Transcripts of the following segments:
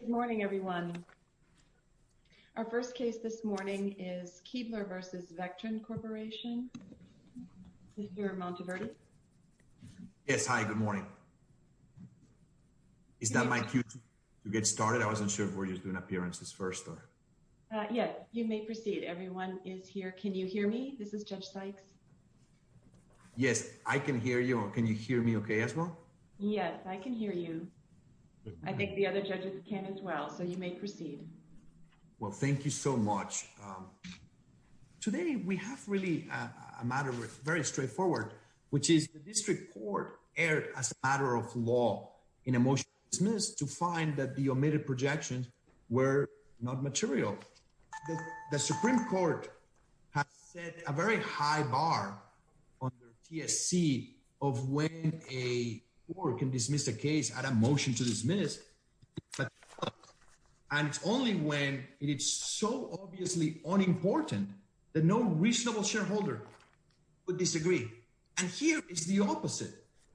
Good morning, everyone. Our first case this morning is Kuebler v. Vectren Corporation. Mr. Monteverde? Yes, hi, good morning. Is that my cue to get started? I wasn't sure if we're just doing appearances first or... Yeah, you may proceed. Everyone is here. Can you hear me? This is Judge Sykes. Yes, I can hear you. Can you hear me okay as well? Yes, I can hear you. I think the other judges can as well, so you may proceed. Well, thank you so much. Today, we have really a matter that's very straightforward, which is the District Court erred as a matter of law in a motion to find that the omitted projections were not material. The Supreme Court has set a very high bar on their TSC of when a court can dismiss a case at a motion to dismiss. And it's only when it's so obviously unimportant that no reasonable shareholder would disagree. And here is the opposite.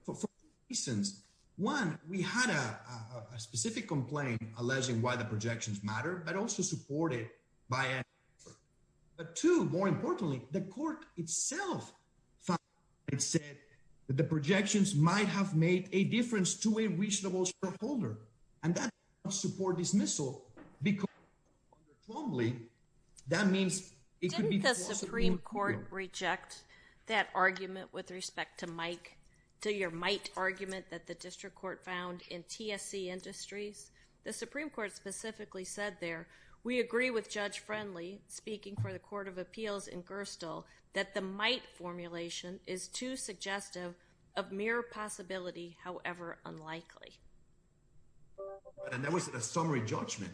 For two reasons. One, we had a but also supported by... But two, more importantly, the court itself found and said that the projections might have made a difference to a reasonable shareholder. And that does not support dismissal because... That means it could be... Didn't the Supreme Court reject that argument with respect to Mike, to your might argument that the District Court found in TSC Industries? The Supreme Court specifically said there, we agree with Judge Friendly, speaking for the Court of Appeals in Gerstle, that the might formulation is too suggestive of mere possibility, however unlikely. And that was a summary judgment.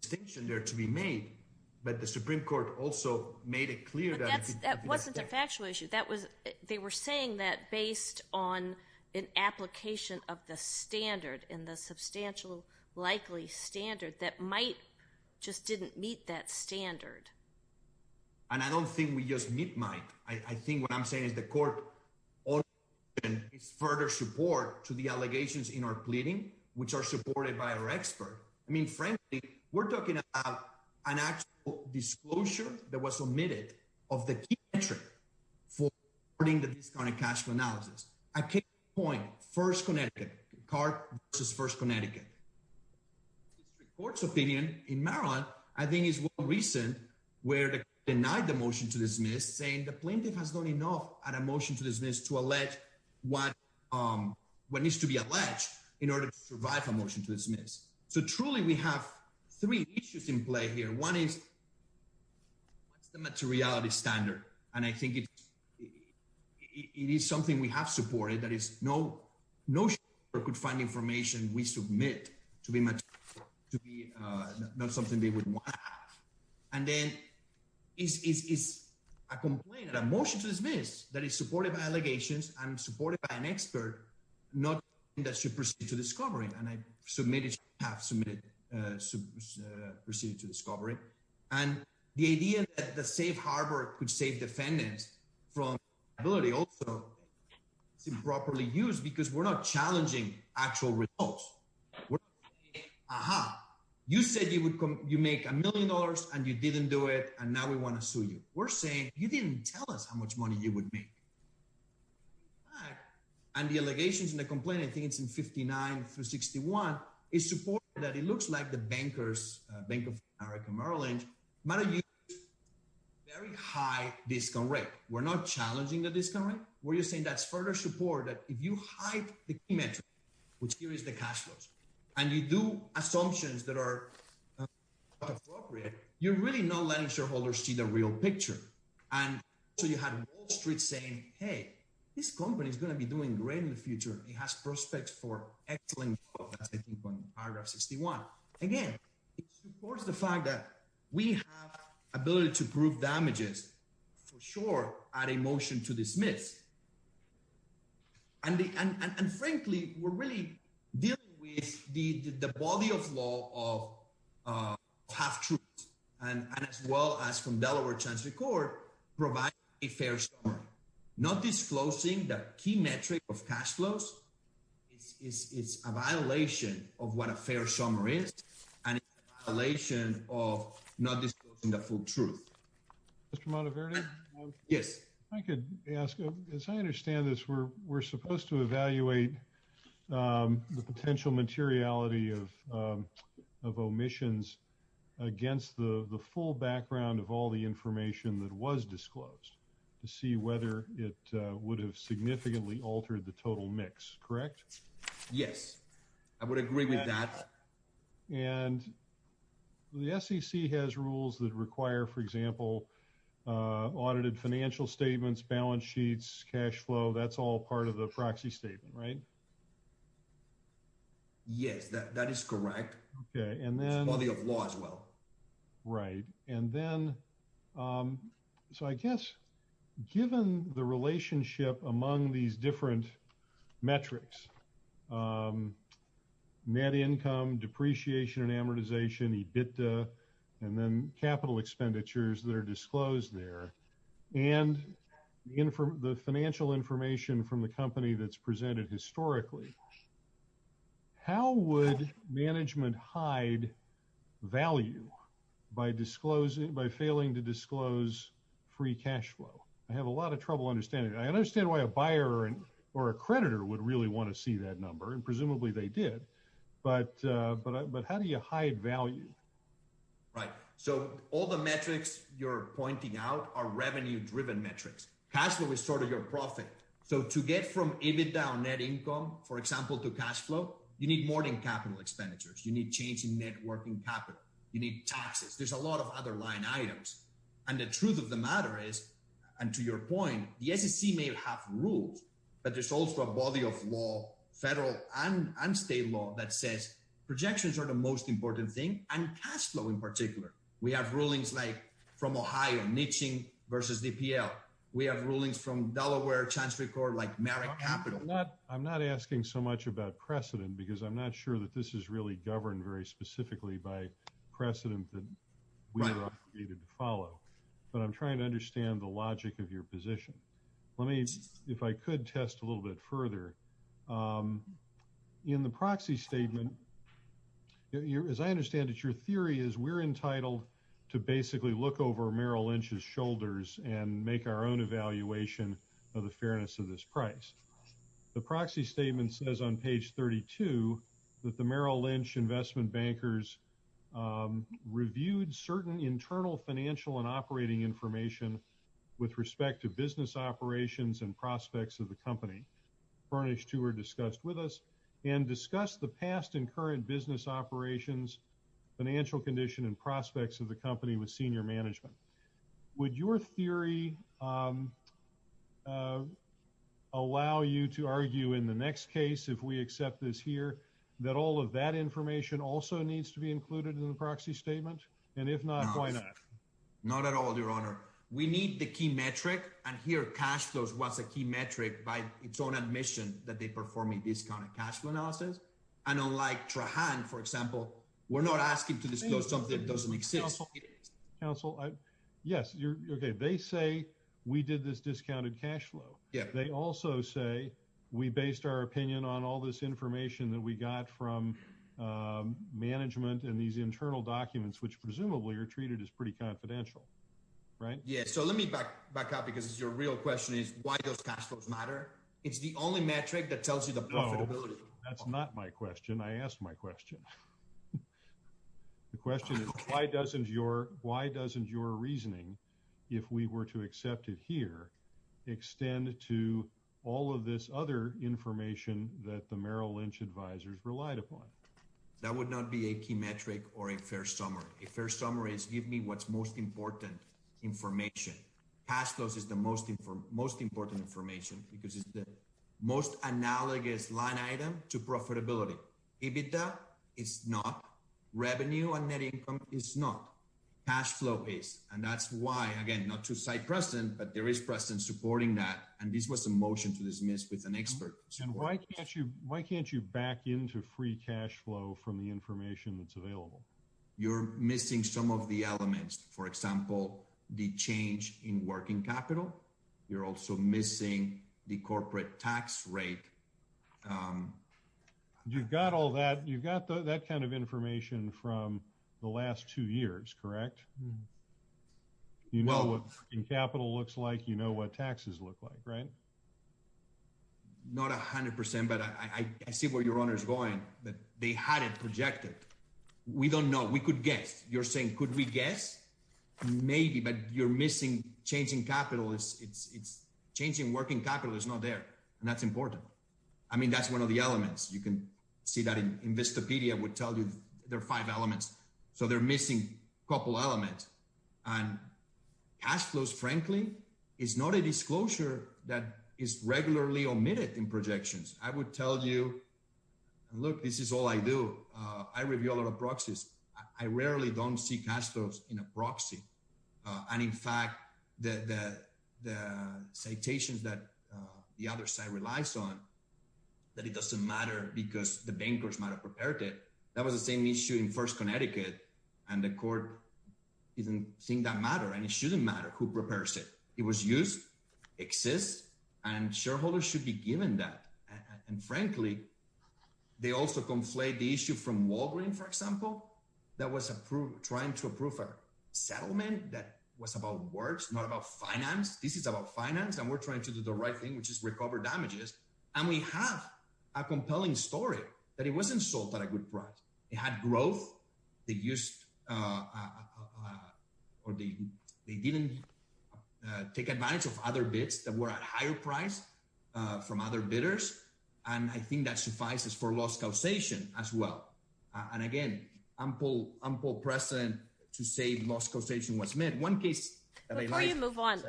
Distinction there to be made, but the Supreme Court also made it clear that... But that wasn't a factual issue. That was... They were saying that based on an application of the standard in the likely standard, that might just didn't meet that standard. And I don't think we just meet might. I think what I'm saying is the court further support to the allegations in our pleading, which are supported by our expert. I mean, frankly, we're talking about an actual disclosure that was omitted of the key metric for reporting the discounted cash flow analysis. I keep the point, 1st Connecticut, CART versus 1st Connecticut. The District Court's opinion in Maryland, I think is more recent, where they denied the motion to dismiss, saying the plaintiff has done enough at a motion to dismiss to allege what needs to be alleged in order to survive a motion to dismiss. So truly, we have three issues in play here. One is, what's the materiality standard? And I think it is something we have supported. That is, no, no court could find information we submit to be material, to be not something they would want to have. And then it's a complaint, a motion to dismiss, that is supported by allegations and supported by an expert, not that should proceed to discovery. And I submitted, have submitted, should proceed to discovery. And the idea that the safe harbor could save defendants from liability also is improperly used because we're not challenging actual results. We're saying, aha, you said you would, you make a million dollars and you didn't do it, and now we want to sue you. We're saying, you didn't tell us how much money you would make. And the allegations and the complaint, I think it's in 59 through 61, is support that it looks like the bankers, Bank of America, Merrill Lynch, matter of fact, very high discount rate. We're not challenging the discount rate. We're just saying that's further support that if you hide the key metric, which here is the cash flows, and you do assumptions that are not appropriate, you're really not letting shareholders see the real picture. And so you had Wall Street saying, hey, this company is going to be doing great in the future. It has prospects for excellent growth, I think, on paragraph 61. Again, it supports the fact that we have ability to prove damages for sure at a motion to dismiss. And frankly, we're really dealing with the body of law of half-truths, and as well as from Delaware transfer court, provide a fair summary. Not disclosing the key metric of cash flows is a violation of what a fair summary is, and it's a violation of not disclosing the full truth. Mr. Monteverde? Yes. I could ask, as I understand this, we're supposed to evaluate the potential materiality of was disclosed to see whether it would have significantly altered the total mix, correct? Yes, I would agree with that. And the SEC has rules that require, for example, audited financial statements, balance sheets, cash flow, that's all part of the proxy statement, right? Yes, that is correct. Okay, and then... It's body of law as well. Right. And then, so I guess, given the relationship among these different metrics, net income, depreciation and amortization, EBITDA, and then capital expenditures that are disclosed there, and the financial information from the company that's presented historically, how would management hide value by disclosing, by failing to disclose free cash flow? I have a lot of trouble understanding. I understand why a buyer or a creditor would really want to see that number, and presumably they did, but how do you hide value? Right. So all the metrics you're pointing out are revenue-driven metrics. Cash flow is sort of your profit. So to get from EBITDA or net income, for example, to cash flow, you need more than capital expenditures. You need change in net working capital. You need taxes. There's a lot of other line items. And the truth of the matter is, and to your point, the SEC may have rules, but there's also a body of law, federal and state law, that says projections are the most important thing, and cash flow in particular. We have rulings like from Ohio, niching versus DPL. We have rulings from Delaware, Chancery Court, like Merrick Capital. I'm not asking so much about precedent, because I'm not sure that this is really governed very specifically by precedent that we are obligated to follow. But I'm trying to understand the logic of your position. Let me, if I could, test a little bit further. In the proxy statement, as I understand it, your theory is we're entitled to basically look over Merrill Lynch's shoulders and make our own evaluation of the fairness of this price. The proxy statement says on page 32 that the Merrill Lynch investment bankers reviewed certain internal financial and operating information with respect to business operations and prospects of the company. Furnished two were discussed with us, and discussed the past and current business operations, financial condition and prospects of the company with senior management. Would your theory allow you to argue in the next case, if we accept this here, that all of that information also needs to be included in the proxy statement? And if not, why not? Not at all, Your Honor. We need the key metric, and here cash flow was a key metric by its own admission that they perform a discounted cash flow analysis. And unlike Trahan, for example, who is a senior manager of Merrill Lynch, who is a senior manager of Merrill Lynch, they say we did this discounted cash flow. They also say we based our opinion on all this information that we got from management and these internal documents, which presumably are treated as pretty confidential, right? Yeah. So let me back up because your real question is why does cash flows matter? It's the only metric that tells you the profitability. That's not my question. I asked my question. The question is, why doesn't your, why doesn't your reasoning, if we were to accept it here, extend to all of this other information that the Merrill Lynch advisors relied upon? That would not be a key metric or a fair summary. A fair summary is give me what's most important information. Cash flows is the most important information because it's the analogous line item to profitability. EBITDA is not. Revenue and net income is not. Cash flow is. And that's why, again, not to cite Preston, but there is Preston supporting that. And this was a motion to dismiss with an expert. And why can't you back into free cash flow from the information that's available? You're missing some of the elements. For example, the change in working capital. You're also missing the corporate tax rate. You've got all that. You've got that kind of information from the last two years, correct? You know what capital looks like. You know what taxes look like, right? Not a hundred percent, but I see where your honor is going, that they had it projected. We don't know. We could guess. You're saying, could we guess? Maybe, but you're changing capital. It's changing working capital is not there. And that's important. I mean, that's one of the elements. You can see that in Vistapedia would tell you there are five elements. So they're missing a couple elements. And cash flows, frankly, is not a disclosure that is regularly omitted in projections. I would tell you, look, this is all I do. I review a lot of the citations that the other side relies on, that it doesn't matter because the bankers might have prepared it. That was the same issue in First Connecticut. And the court didn't think that mattered. And it shouldn't matter who prepares it. It was used, exists, and shareholders should be given that. And frankly, they also conflate the issue from Walgreens, for example, that was trying to approve a settlement that was about works, not about finance. This is about finance, and we're trying to do the right thing, which is recover damages. And we have a compelling story that it wasn't sold at a good price. It had growth. They didn't take advantage of other bids that were at a higher price from other bidders. And I think that suffices for loss causation as well. And again, ample precedent to say loss causation was met. Before you move on,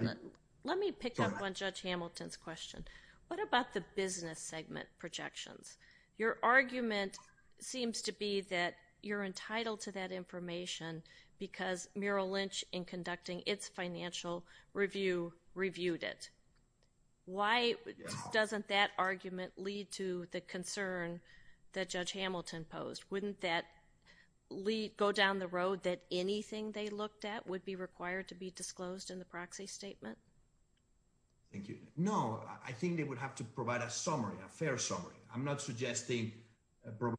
let me pick up on Judge Hamilton's question. What about the business segment projections? Your argument seems to be that you're entitled to that information because Merrill Lynch, in conducting its financial review, reviewed it. Why doesn't that argument lead to the concern that Judge Hamilton posed? Wouldn't that go down the road that anything they looked at would be required to be disclosed in the proxy statement? Thank you. No, I think they would have to provide a summary, a fair summary. I'm not suggesting a broad...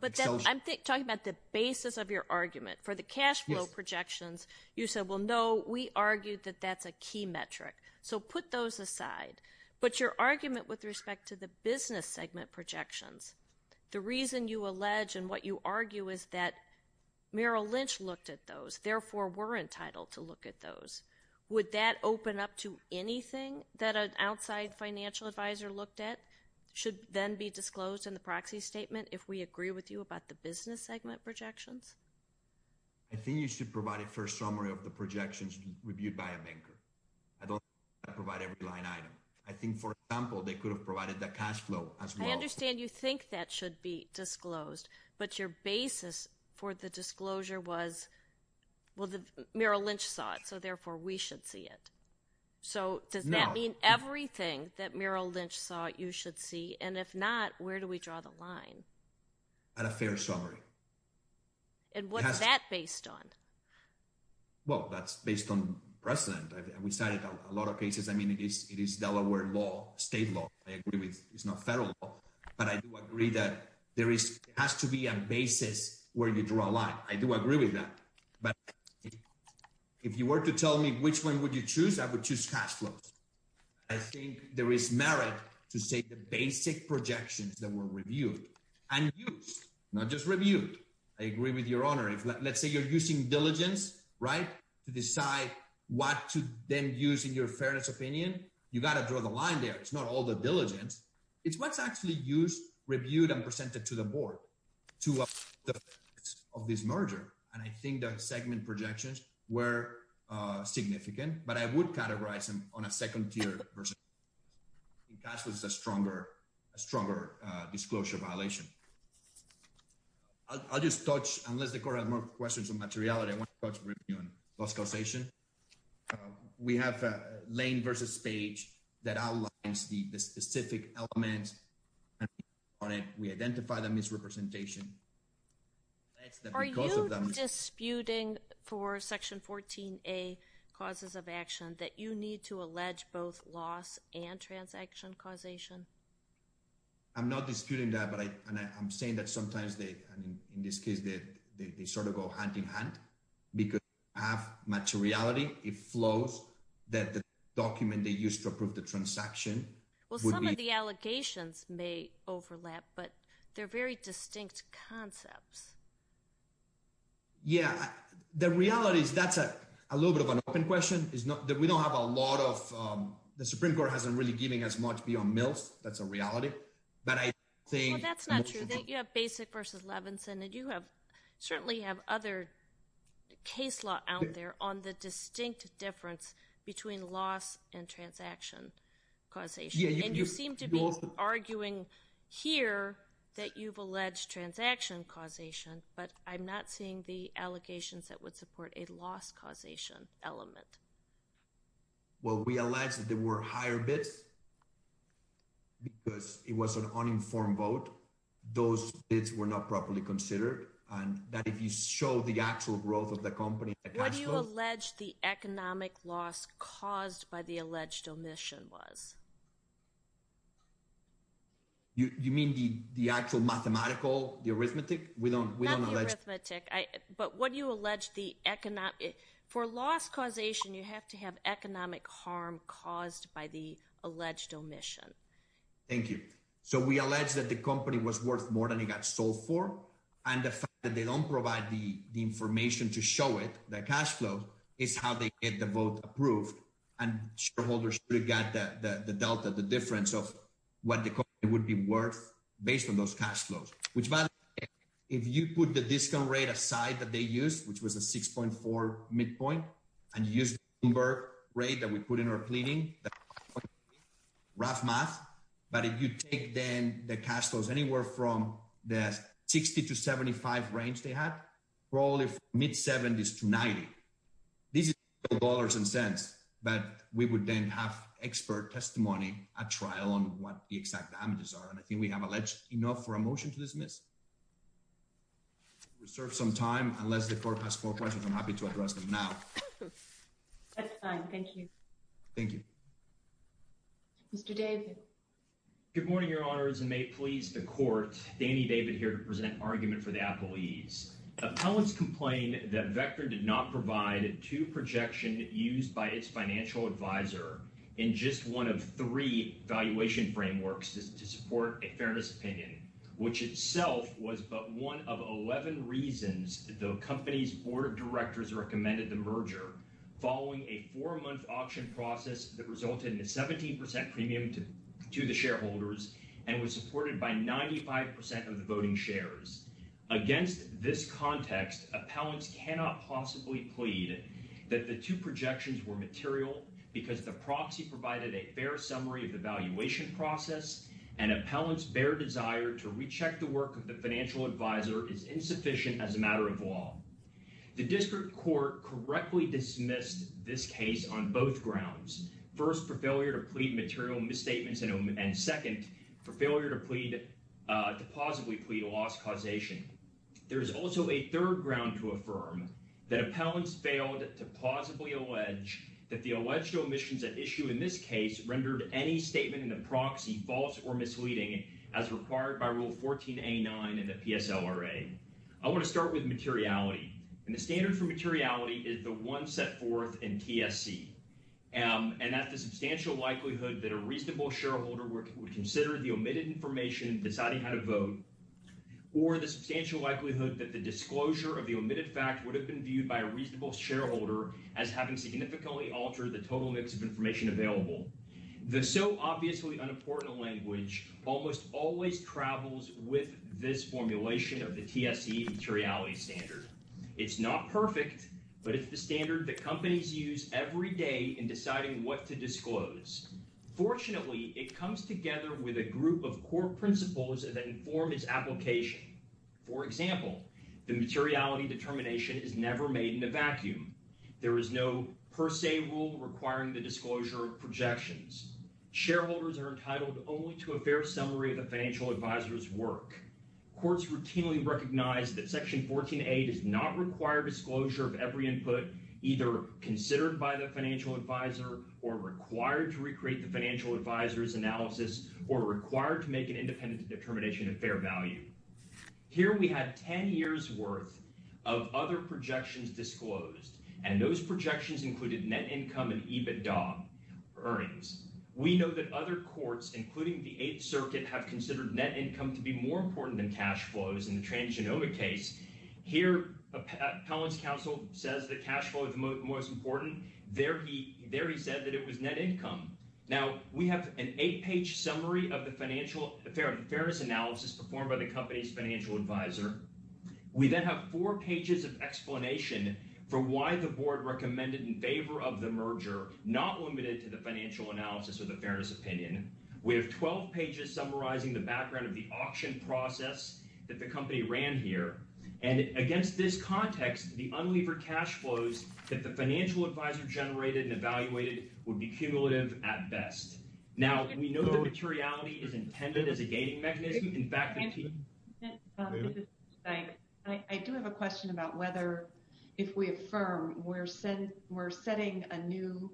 But I'm talking about the basis of your argument. For the cash flow projections, you said, well, no, we argued that that's a key metric. So put those aside. But your argument with respect to the business segment projections, the reason you allege and what you argue is that Merrill Lynch looked at those, therefore, we're entitled to look at those. Would that open up to anything that an outside financial advisor looked at should then be disclosed in the proxy statement if we agree with you about the business segment projections? I think you should provide a fair summary of the I don't provide every line item. I think, for example, they could have provided the cash flow as well. I understand you think that should be disclosed, but your basis for the disclosure was, well, Merrill Lynch saw it, so therefore, we should see it. So does that mean everything that Merrill Lynch saw you should see? And if not, where do we draw the line? At a fair summary. And what's that based on? Well, that's based on precedent. We cited a lot of cases. I mean, it is Delaware law, state law. I agree with it's not federal law, but I do agree that there has to be a basis where you draw a line. I do agree with that. But if you were to tell me which one would you choose, I would choose cash flows. I think there is merit to say the basic projections that were reviewed and used, not just reviewed. I agree with your honor. If let's say you're using diligence, right, to decide what to then use in your fairness opinion, you got to draw the line there. It's not all the diligence. It's what's actually used, reviewed, and presented to the board to of this merger. And I think the segment projections were significant, but I would categorize them on a second tier versus cash flows is a stronger disclosure violation. I'll just touch, unless the court has more questions on materiality, I want to touch briefly on cost causation. We have lane versus page that outlines the specific elements on it. We identify the misrepresentation. Are you disputing for section 14a causes of action that you need to allege both loss and transaction causation? I'm not disputing that, but I'm saying that sometimes, in this case, they sort of go hand in hand because they don't have much materiality. It flows that the document they used to approve the transaction would be. Well, some of the allegations may overlap, but they're very distinct concepts. Yeah. The reality is that's a little bit of an open question. We don't have a lot of, the Supreme Court hasn't really given us much beyond mills. That's a reality, but I think- Well, that's not true. You have basic versus Levinson, and you certainly have other case law out there on the distinct difference between loss and transaction causation, and you seem to be arguing here that you've alleged transaction causation, but I'm not seeing the allegations that would support a loss causation element. Well, we allege that there were higher bids because it was an uninformed vote. Those bids were not properly considered, and that if you show the actual growth of the company- What do you allege the economic loss caused by the alleged omission was? You mean the actual mathematical, the arithmetic? We don't- Not the arithmetic, but what do you allege the economic, for loss causation, you have to have economic harm caused by the alleged omission. Thank you. So, we allege that the company was worth more than it got sold for, and the fact that they don't provide the information to show it, the cash flow, is how they get the vote approved, and shareholders should have got the delta, the difference of what the company would be worth based on those cash flows, which, by the way, if you put the discount rate aside that they used, which was a 6.4 midpoint, and you use the Bloomberg rate that we put in our pleading, that's rough math, but if you take then the cash flows anywhere from the 60 to 75 range they had, probably from mid-70s to 90, this is dollars and cents, but we would then have expert testimony at trial on what the exact damages are, and I think we have alleged enough for a motion to dismiss. Reserve some time, unless the court has more questions, I'm happy to address them now. That's fine, thank you. Thank you. Mr. David. Good morning, Your Honors, and may it please the court, Danny David here to present argument for the appellees. Appellants complain that Vector did not provide two projections used by its financial advisor in just one of three valuation frameworks to support a fairness opinion, which itself was but one of 11 reasons the company's board of directors recommended the merger following a four-month auction process that resulted in a 17% premium to the shareholders and was supported by 95% of the voting shares. Against this context, appellants cannot possibly plead that the two projections were material because the proxy provided a fair summary of the valuation process, and appellants' bare desire to recheck the work of the financial advisor is insufficient as a grounds. First, for failure to plead material misstatements and second, for failure to plausibly plead a loss causation. There is also a third ground to affirm, that appellants failed to plausibly allege that the alleged omissions at issue in this case rendered any statement in the proxy false or misleading as required by Rule 14a9 in the PSLRA. I want to start with materiality, and the standard for materiality is the one set forth in TSC, and that the substantial likelihood that a reasonable shareholder would consider the omitted information deciding how to vote or the substantial likelihood that the disclosure of the omitted fact would have been viewed by a reasonable shareholder as having significantly altered the total mix of information available. The so obviously unimportant language almost always travels with this formulation of the TSC materiality standard. It's not perfect, but it's the standard that companies use every day in deciding what to disclose. Fortunately, it comes together with a group of core principles that inform its application. For example, the materiality determination is never made in a vacuum. There is no per se rule requiring the disclosure of projections. Shareholders are entitled only to a fair summary of the financial advisor's work. Courts routinely recognize that Section 14a does not require disclosure of every input either considered by the financial advisor or required to recreate the financial advisor's analysis or required to make an independent determination of fair value. Here we had 10 years worth of other projections disclosed, and those projections included net income and EBITDA earnings. We know that other courts, including the Eighth Circuit, have considered net income to be more important than cash flows in the transgenomic case. Here, Appellant's counsel says that cash flow is most important. There he said that it was net income. Now, we have an eight-page summary of the fairness analysis performed by the company's the merger, not limited to the financial analysis or the fairness opinion. We have 12 pages summarizing the background of the auction process that the company ran here, and against this context, the unlevered cash flows that the financial advisor generated and evaluated would be cumulative at best. Now, we know the materiality is intended as a gating mechanism. I do have a question about whether, if we affirm, we're setting a new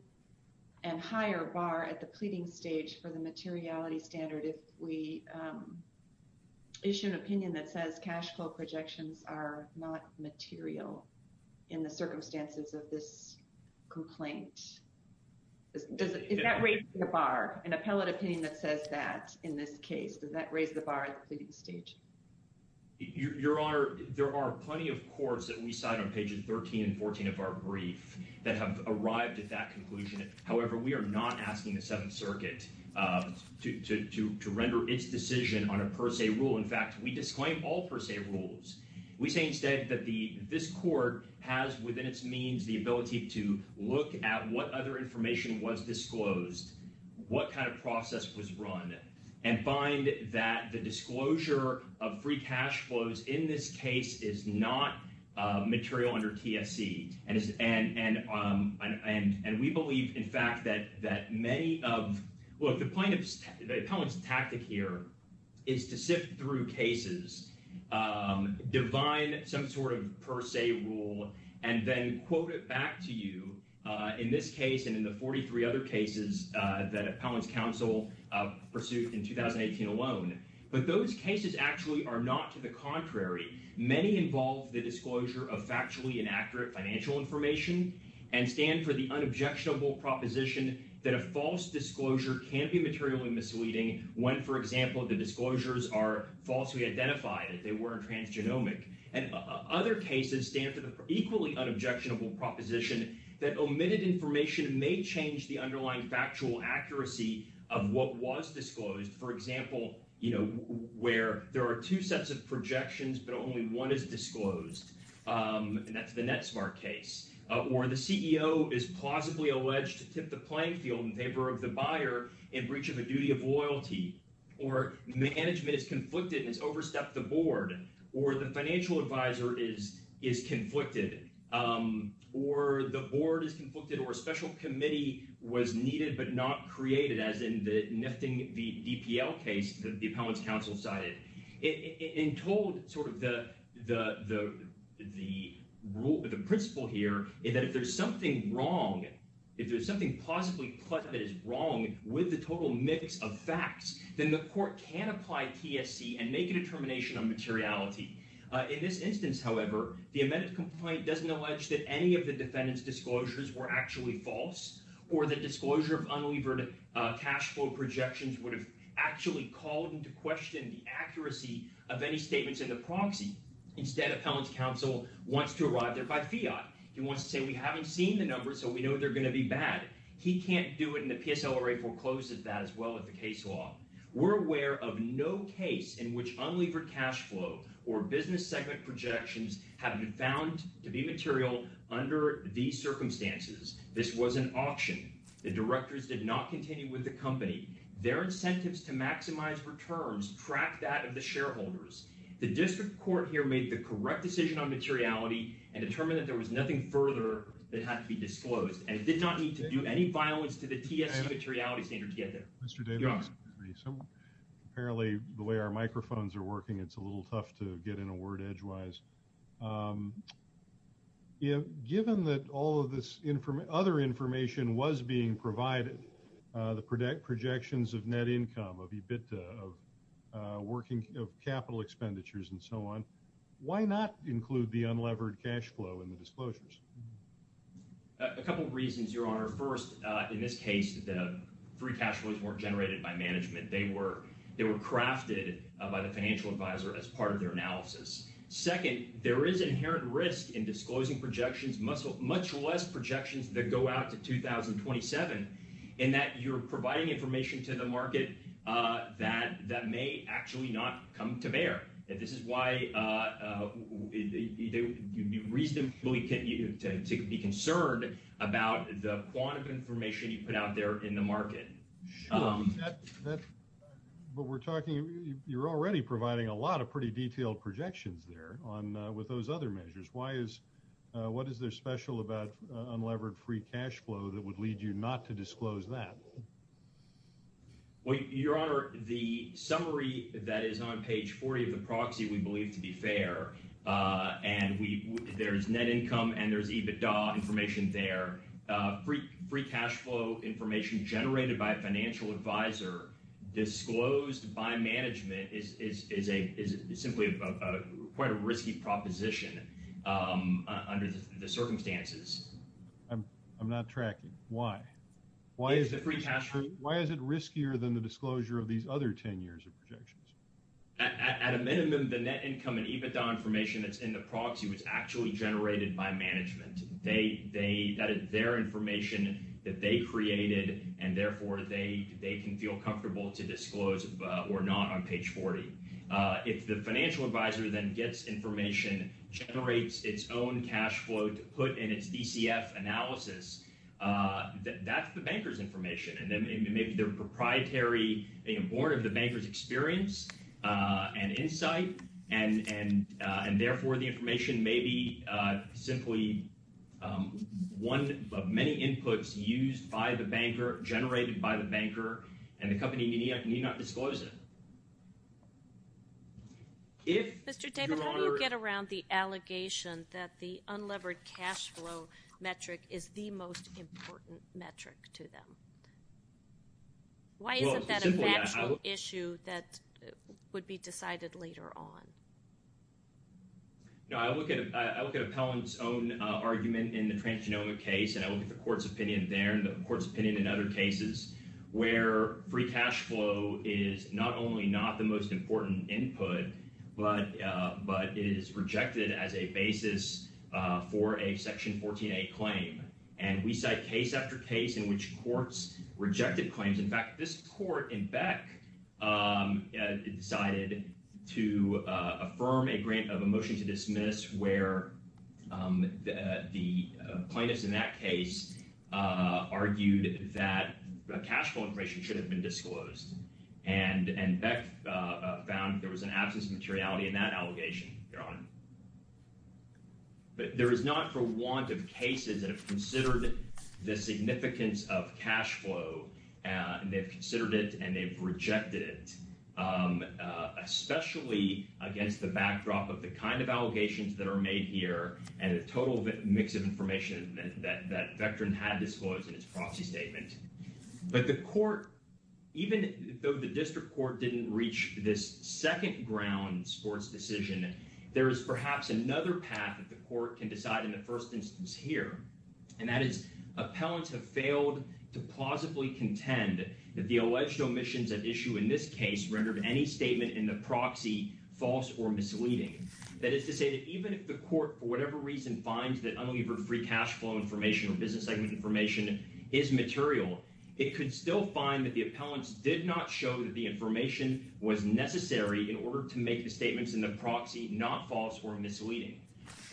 and higher bar at the pleading stage for the materiality standard if we issue an opinion that says cash flow projections are not material in the circumstances of this complaint. Does that raise the bar, an appellate opinion that says that in this case? Does that raise the bar at the pleading stage? Your Honor, there are plenty of courts that we cite on pages 13 and 14 of our brief that have arrived at that conclusion. However, we are not asking the Seventh Circuit to render its decision on a per se rule. In fact, we disclaim all per se rules. We say instead that this court has within its means the ability to look at what other information was disclosed, what kind of process was run, and find that the disclosure of free cash flows in this case is not material under TSC. And we believe, in fact, that many of—look, the divine some sort of per se rule, and then quote it back to you in this case and in the 43 other cases that Appellant's counsel pursued in 2018 alone. But those cases actually are not to the contrary. Many involve the disclosure of factually inaccurate financial information and stand for the unobjectionable proposition that a false disclosure can be materially misleading when, for example, the disclosures are falsely identified, that they weren't transgenomic. And other cases stand for the equally unobjectionable proposition that omitted information may change the underlying factual accuracy of what was disclosed. For example, where there are two sets of projections, but only one is disclosed, and that's the NetSmart case. Or the CEO is plausibly alleged to tip the management is conflicted and has overstepped the board, or the financial advisor is conflicted, or the board is conflicted, or a special committee was needed but not created, as in the nifting the DPL case that the Appellant's counsel cited. It told sort of the principle here is that if there's something wrong, if there's something plausibly that is wrong with the total mix of facts, then the court can apply TSC and make a determination on materiality. In this instance, however, the amended complaint doesn't allege that any of the defendant's disclosures were actually false, or the disclosure of unlevered cash flow projections would have actually called into question the accuracy of any statements in the proxy. Instead, Appellant's counsel wants to arrive there by fiat. He wants to say, we haven't seen the numbers, so we know they're going to be We're aware of no case in which unlevered cash flow or business segment projections have been found to be material under these circumstances. This was an auction. The directors did not continue with the company. Their incentives to maximize returns track that of the shareholders. The district court here made the correct decision on materiality and determined that there was nothing further that had to be disclosed, and it did not need to do any violence to TSC materiality standard to get there. Mr. Davis, apparently the way our microphones are working, it's a little tough to get in a word edgewise. Given that all of this other information was being provided, the projections of net income, of EBITDA, of capital expenditures, and so on, why not include the unlevered cash flow in the disclosures? A couple of reasons, Your Honor. First, in this case, the free cash flows weren't generated by management. They were crafted by the financial advisor as part of their analysis. Second, there is inherent risk in disclosing projections, much less projections that go out to 2027, in that you're providing information to the market that may actually not come to bear. This is why you need to be reasonably concerned about the quantum information you put out there in the market. But we're talking, you're already providing a lot of pretty detailed projections there with those other measures. What is there special about unlevered free cash flow that would lead you not to disclose that? Your Honor, the summary that is on page 40 of the proxy we believe to be fair, and there's net income and there's EBITDA information there, free cash flow information generated by a financial advisor disclosed by management is simply quite a risky proposition under the circumstances. I'm not tracking. Why? Why is it riskier than the disclosure of these other 10 years of projections? At a minimum, the net income and EBITDA information that's in the proxy was actually generated by management. That is their information that they created, and therefore they can feel comfortable to disclose or not on page 40. If the financial advisor then gets information, generates its own cash flow to put in its DCF analysis, that's the banker's information, and maybe they're proprietary, born of the banker's experience and insight, and therefore the information may be simply one of many inputs used by the banker, generated by the banker, and the company may not disclose it. Mr. David, how do you get around the allegation that the unlevered cash flow metric is the most important metric to them? Why isn't that a factual issue that would be decided later on? No, I look at appellant's own argument in the transgenomic case, and I look at the court's opinion there, and the court's opinion in other cases where free cash flow is not only not the most important input, but it is rejected as a basis for a Section 14a claim, and we cite case after case in which courts rejected claims. In fact, this court in Beck decided to affirm a grant of a motion to dismiss where the plaintiffs in that case argued that cash flow information should have been disclosed, and Beck found there was an absence of materiality in that allegation thereon. But there is not for want of cases that have considered the significance of cash flow, and they've considered it and they've rejected it, especially against the backdrop of the kind of allegations that are made here and the total mix of information that Vectran had in his proxy statement. But the court, even though the district court didn't reach this second ground sports decision, there is perhaps another path that the court can decide in the first instance here, and that is appellants have failed to plausibly contend that the alleged omissions at issue in this case rendered any statement in the proxy false or misleading. That is to say that even if the court, for whatever reason, finds that unlevered free cash flow information or business segment information is material, it could still find that the appellants did not show that the information was necessary in order to make the statements in the proxy not false or misleading.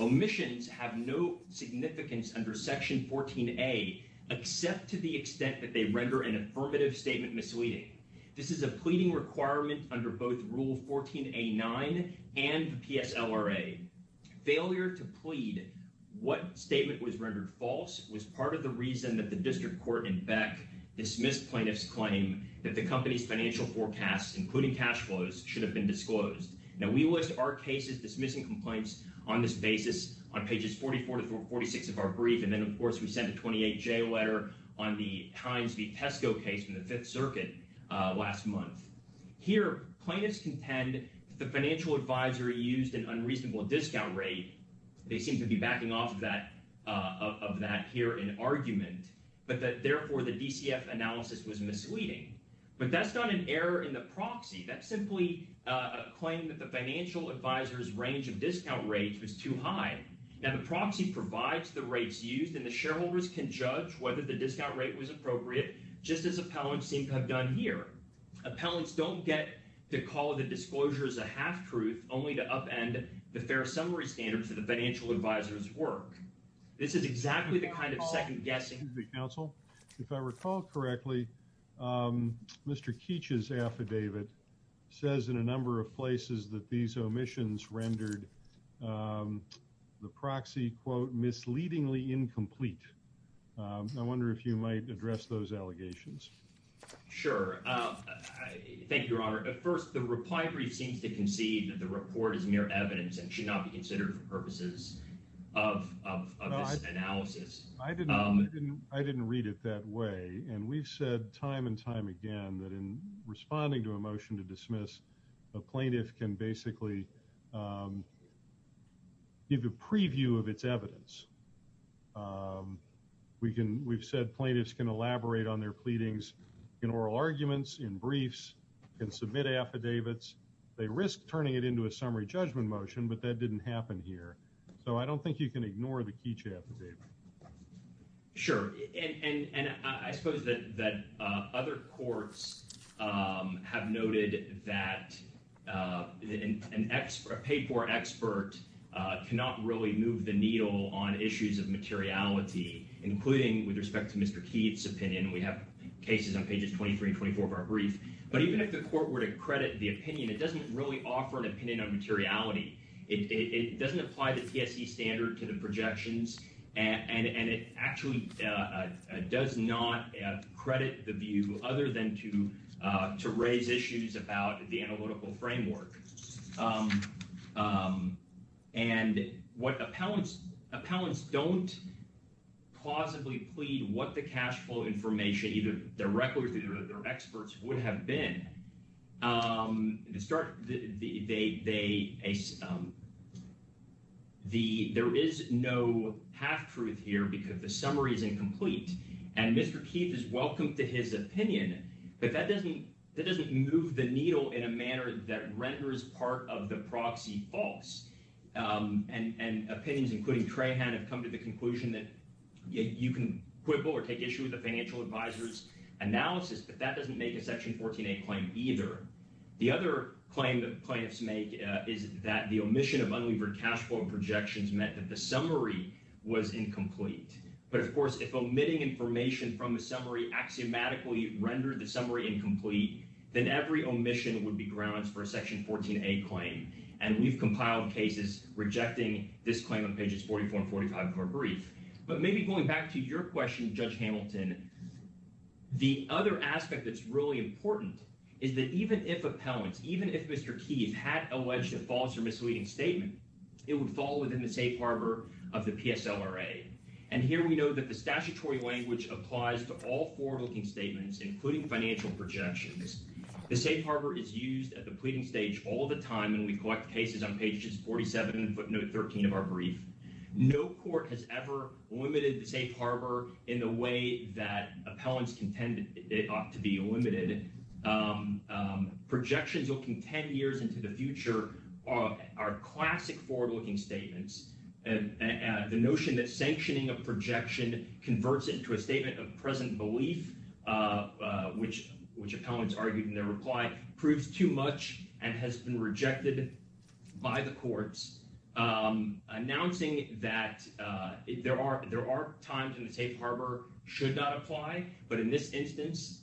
Omissions have no significance under Section 14A except to the extent that they render an affirmative statement misleading. This is a pleading requirement under both Rule 14A9 and PSLRA. Failure to plead what statement was rendered false was part of the reason that the district court in Beck dismissed plaintiffs' claim that the company's financial forecasts, including cash flows, should have been disclosed. Now we list our cases dismissing complaints on this basis on pages 44 to 46 of our brief, and then of course we sent a 28J letter on the Times v. Pesco case in the Fifth Circuit last month. Here, plaintiffs contend that the financial advisor used an unreasonable discount rate. They seem to be backing off of that here in argument, but that therefore the DCF analysis was misleading. But that's not an error in the proxy. That's simply a claim that the financial advisor's range of discount rates was too high. Now the proxy provides the rates used and the shareholders can judge whether the discount rate was appropriate, just as appellants seem to have done here. Appellants don't get to call the disclosures a half-truth, only to upend the fair summary standards of the financial advisor's work. This is exactly the kind of second-guessing... Excuse me, counsel. If I recall correctly, Mr. Keech's affidavit says in a number of places that these proxies are, quote, misleadingly incomplete. I wonder if you might address those allegations. Sure. Thank you, Your Honor. First, the reply brief seems to concede that the report is mere evidence and should not be considered for purposes of this analysis. I didn't read it that way, and we've said time and time again that in responding to a motion to give a preview of its evidence, we've said plaintiffs can elaborate on their pleadings in oral arguments, in briefs, can submit affidavits. They risk turning it into a summary judgment motion, but that didn't happen here. So I don't think you can ignore the Keech affidavit. Sure. And I suppose that other courts have noted that a paid-for expert cannot really move the needle on issues of materiality, including with respect to Mr. Keech's opinion. We have cases on pages 23 and 24 of our brief. But even if the court were to credit the opinion, it doesn't really offer an opinion on materiality. It doesn't apply the TSC standard to the projections, and it actually does not credit the view other than to raise issues about the analytical framework. And appellants don't plausibly plead what the cash flow information, either directly or through their experts, would have been. There is no half-truth here because the summary is incomplete, and Mr. Keech is welcome to his opinion, but that doesn't move the needle in a manner that renders part of the proxy false. And opinions, including Trahan, have come to the conclusion that you can quibble or take issue with the financial advisor's analysis, but that doesn't make a Section 14a claim, either. The other claim that plaintiffs make is that the omission of unlevered cash flow projections meant that the summary was incomplete. But, of course, if omitting information from a summary axiomatically rendered the summary incomplete, then every omission would be grounds for a Section 14a claim, and we've compiled cases rejecting this claim on pages 44 and 45 of our brief. But maybe going back to your question, Judge Hamilton, the other aspect that's really important is that even if appellants, even if Mr. Keech had alleged a false or misleading statement, it would fall within the safe harbor of the PSLRA. And here we know that the statutory language applies to all forward-looking statements, including financial projections. The safe harbor is used at the pleading stage all the time, and we collect cases on pages 47 and footnote 13 of our brief. No court has ever limited the safe harbor in the way that appellants contend it ought to be limited. Projections looking 10 years into the future are classic forward-looking statements, and the notion that sanctioning a projection converts it into a statement of present belief, which appellants argued in their reply, proves too much and has been rejected by the courts. Announcing that there are times when the safe harbor should not apply, but in this instance,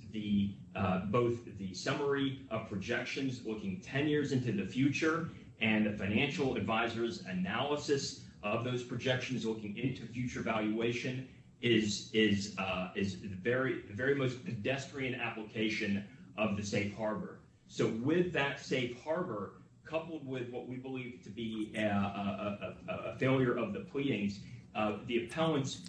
both the summary of projections looking 10 years into the future and the financial advisor's analysis of those projections looking into future valuation is the very most pedestrian application of the safe harbor. So with that safe harbor, coupled with what we believe to be a failure of the pleadings, the appellants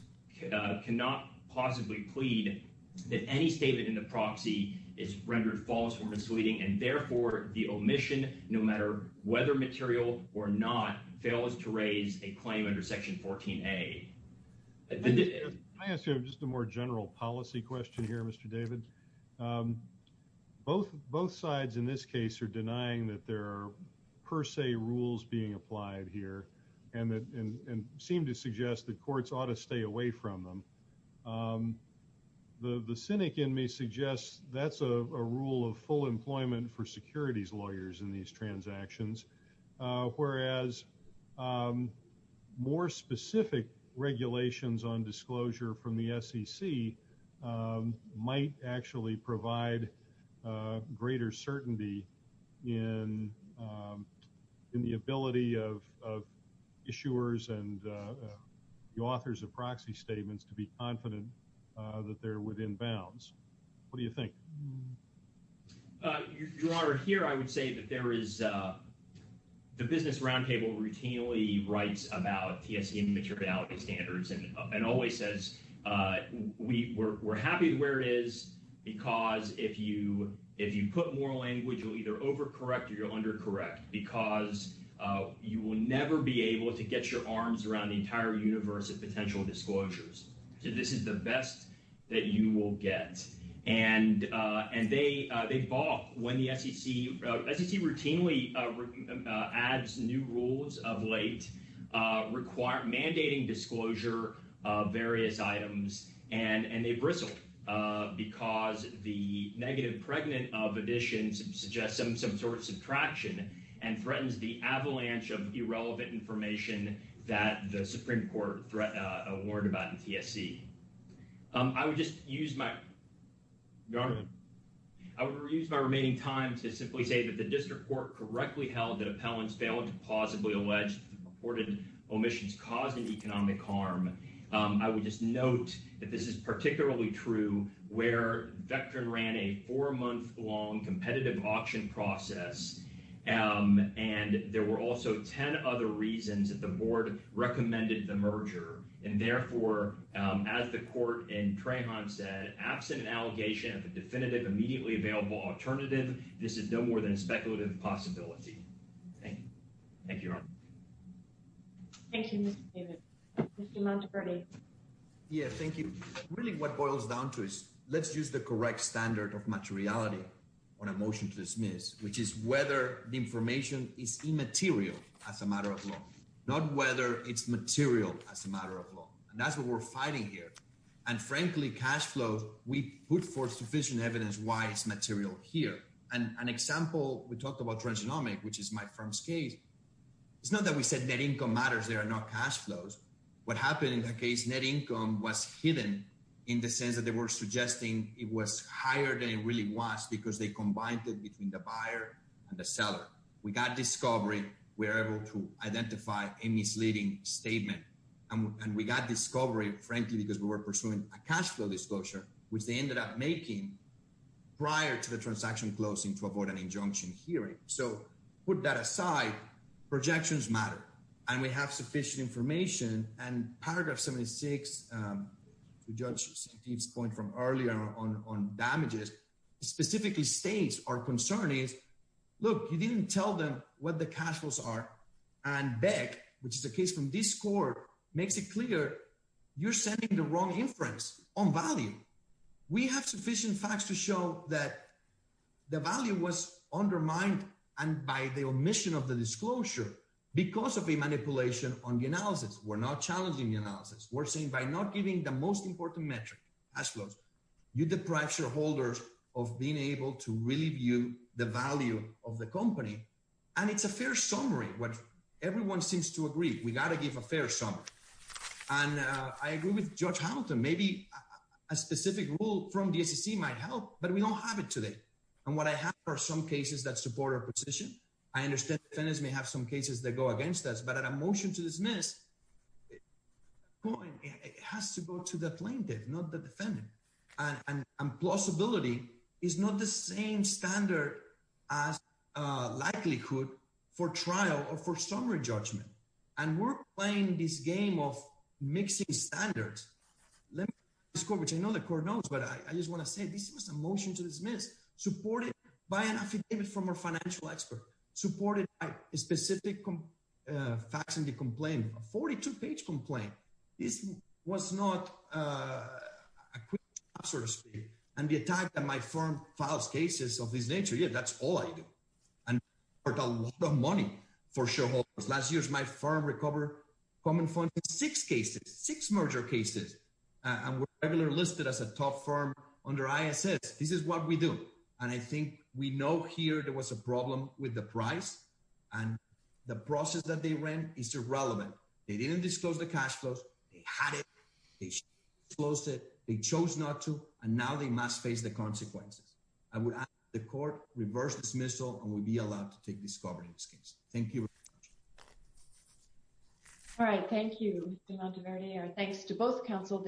cannot possibly plead that any statement in the proxy is rendered false or misleading, and therefore the omission, no matter whether material or not, fails to raise a claim under section 14a. I ask you just a more general policy question here, Mr. David. Both sides in this case are denying that there are per se rules being applied here, and seem to suggest that courts ought to stay away from them. The cynic in me suggests that's a rule of full employment for securities lawyers in these transactions, whereas more specific regulations on disclosure from the SEC might actually provide greater certainty in the ability of issuers and the authors of proxy statements to be confident that they're within bounds. What do you think? Your Honor, here I would say that there is—the Business Roundtable routinely writes about TSC and materiality standards and always says we're happy where it is because if you put more language, you'll either overcorrect or you'll undercorrect, because you will never be able to get your arms around the entire universe of potential disclosures. So this is the best that you will get. And they balk when the SEC—SEC routinely adds new rules of late mandating disclosure of various items, and they bristle because the negative pregnant of addition suggests some sort of subtraction and threatens the avalanche of irrelevant information that the Supreme Court warned about in TSC. I would just use my remaining time to simply say that the district court correctly held that appellants failed to plausibly allege reported omissions causing economic harm. I would just note that this is particularly true where Vectrin ran a four-month-long competitive auction process, and there were also 10 other reasons that the board recommended the merger. And therefore, as the court in Trahan said, absent an allegation of a definitive, immediately available alternative, this is no more than a speculative possibility. Thank you. Thank you, Your Honor. Thank you, Mr. Davis. Mr. Monteverdi. Yeah, thank you. Really what boils down to is let's use the correct standard of materiality on a motion to dismiss, which is whether the information is immaterial as a matter of law, not whether it's material as a matter of law. And that's what we're fighting here. And frankly, cash flows, we put forth sufficient evidence why it's material here. And an example, we talked about transgenomic, which is my firm's case. It's not that we said net income matters there and not cash flows. What happened in that case, net income was hidden in the sense that they were suggesting it was higher than it really was because they combined it between the buyer and the seller. We got discovery. We were able to identify a misleading statement. And we got discovery, frankly, because we were pursuing a cash flow disclosure, which they ended up making prior to the transaction closing to avoid an injunction hearing. So put that aside, projections matter. And we have sufficient information. And paragraph 76, to Judge Santeef's point from earlier on damages, specifically states our concern is, look, you didn't tell them what the cash flows are. And Beck, which is a case from this court, makes it clear you're sending the wrong inference on value. We have sufficient facts to show that the value was undermined and by the omission of the disclosure because of a manipulation on the analysis. We're not challenging the analysis. We're saying by not giving the most important metric, cash flows, you deprive shareholders of being able to really view the value of the company. And it's a fair summary. Everyone seems to agree we got to give a fair summary. And I agree with Judge Hamilton. Maybe a specific rule from the SEC might help, but we don't have it today. And what I have are some cases that support our position. I understand defendants may have some cases that go against us, but at a motion to dismiss, it has to go to the plaintiff, not the defendant. And plausibility is not the same standard as likelihood for trial or for summary judgment. And we're playing this game of mixing standards. Let me ask this court, which I know the court knows, but I just want to say this was a motion to dismiss, supported by an affidavit from a financial expert, supported by a specific facts in the complaint, a 42-page complaint. This was not a quick answer to speak. And the attack that my firm files cases of this nature, yeah, that's all I do. And I worked a lot of money for shareholders. Last year, my firm recovered common funds in six cases, six merger cases, and were regularly listed as a top firm under ISS. This is what we do. And I think we know here there was a problem with the price. And the process that they ran is irrelevant. They didn't disclose the cash flows. They had it. They closed it. They chose not to. And now they must face the consequences. I would ask the court reverse dismissal, and we'll be allowed to take cover in this case. Thank you. All right. Thank you, Mr. Monteverdi. Our thanks to both counsel.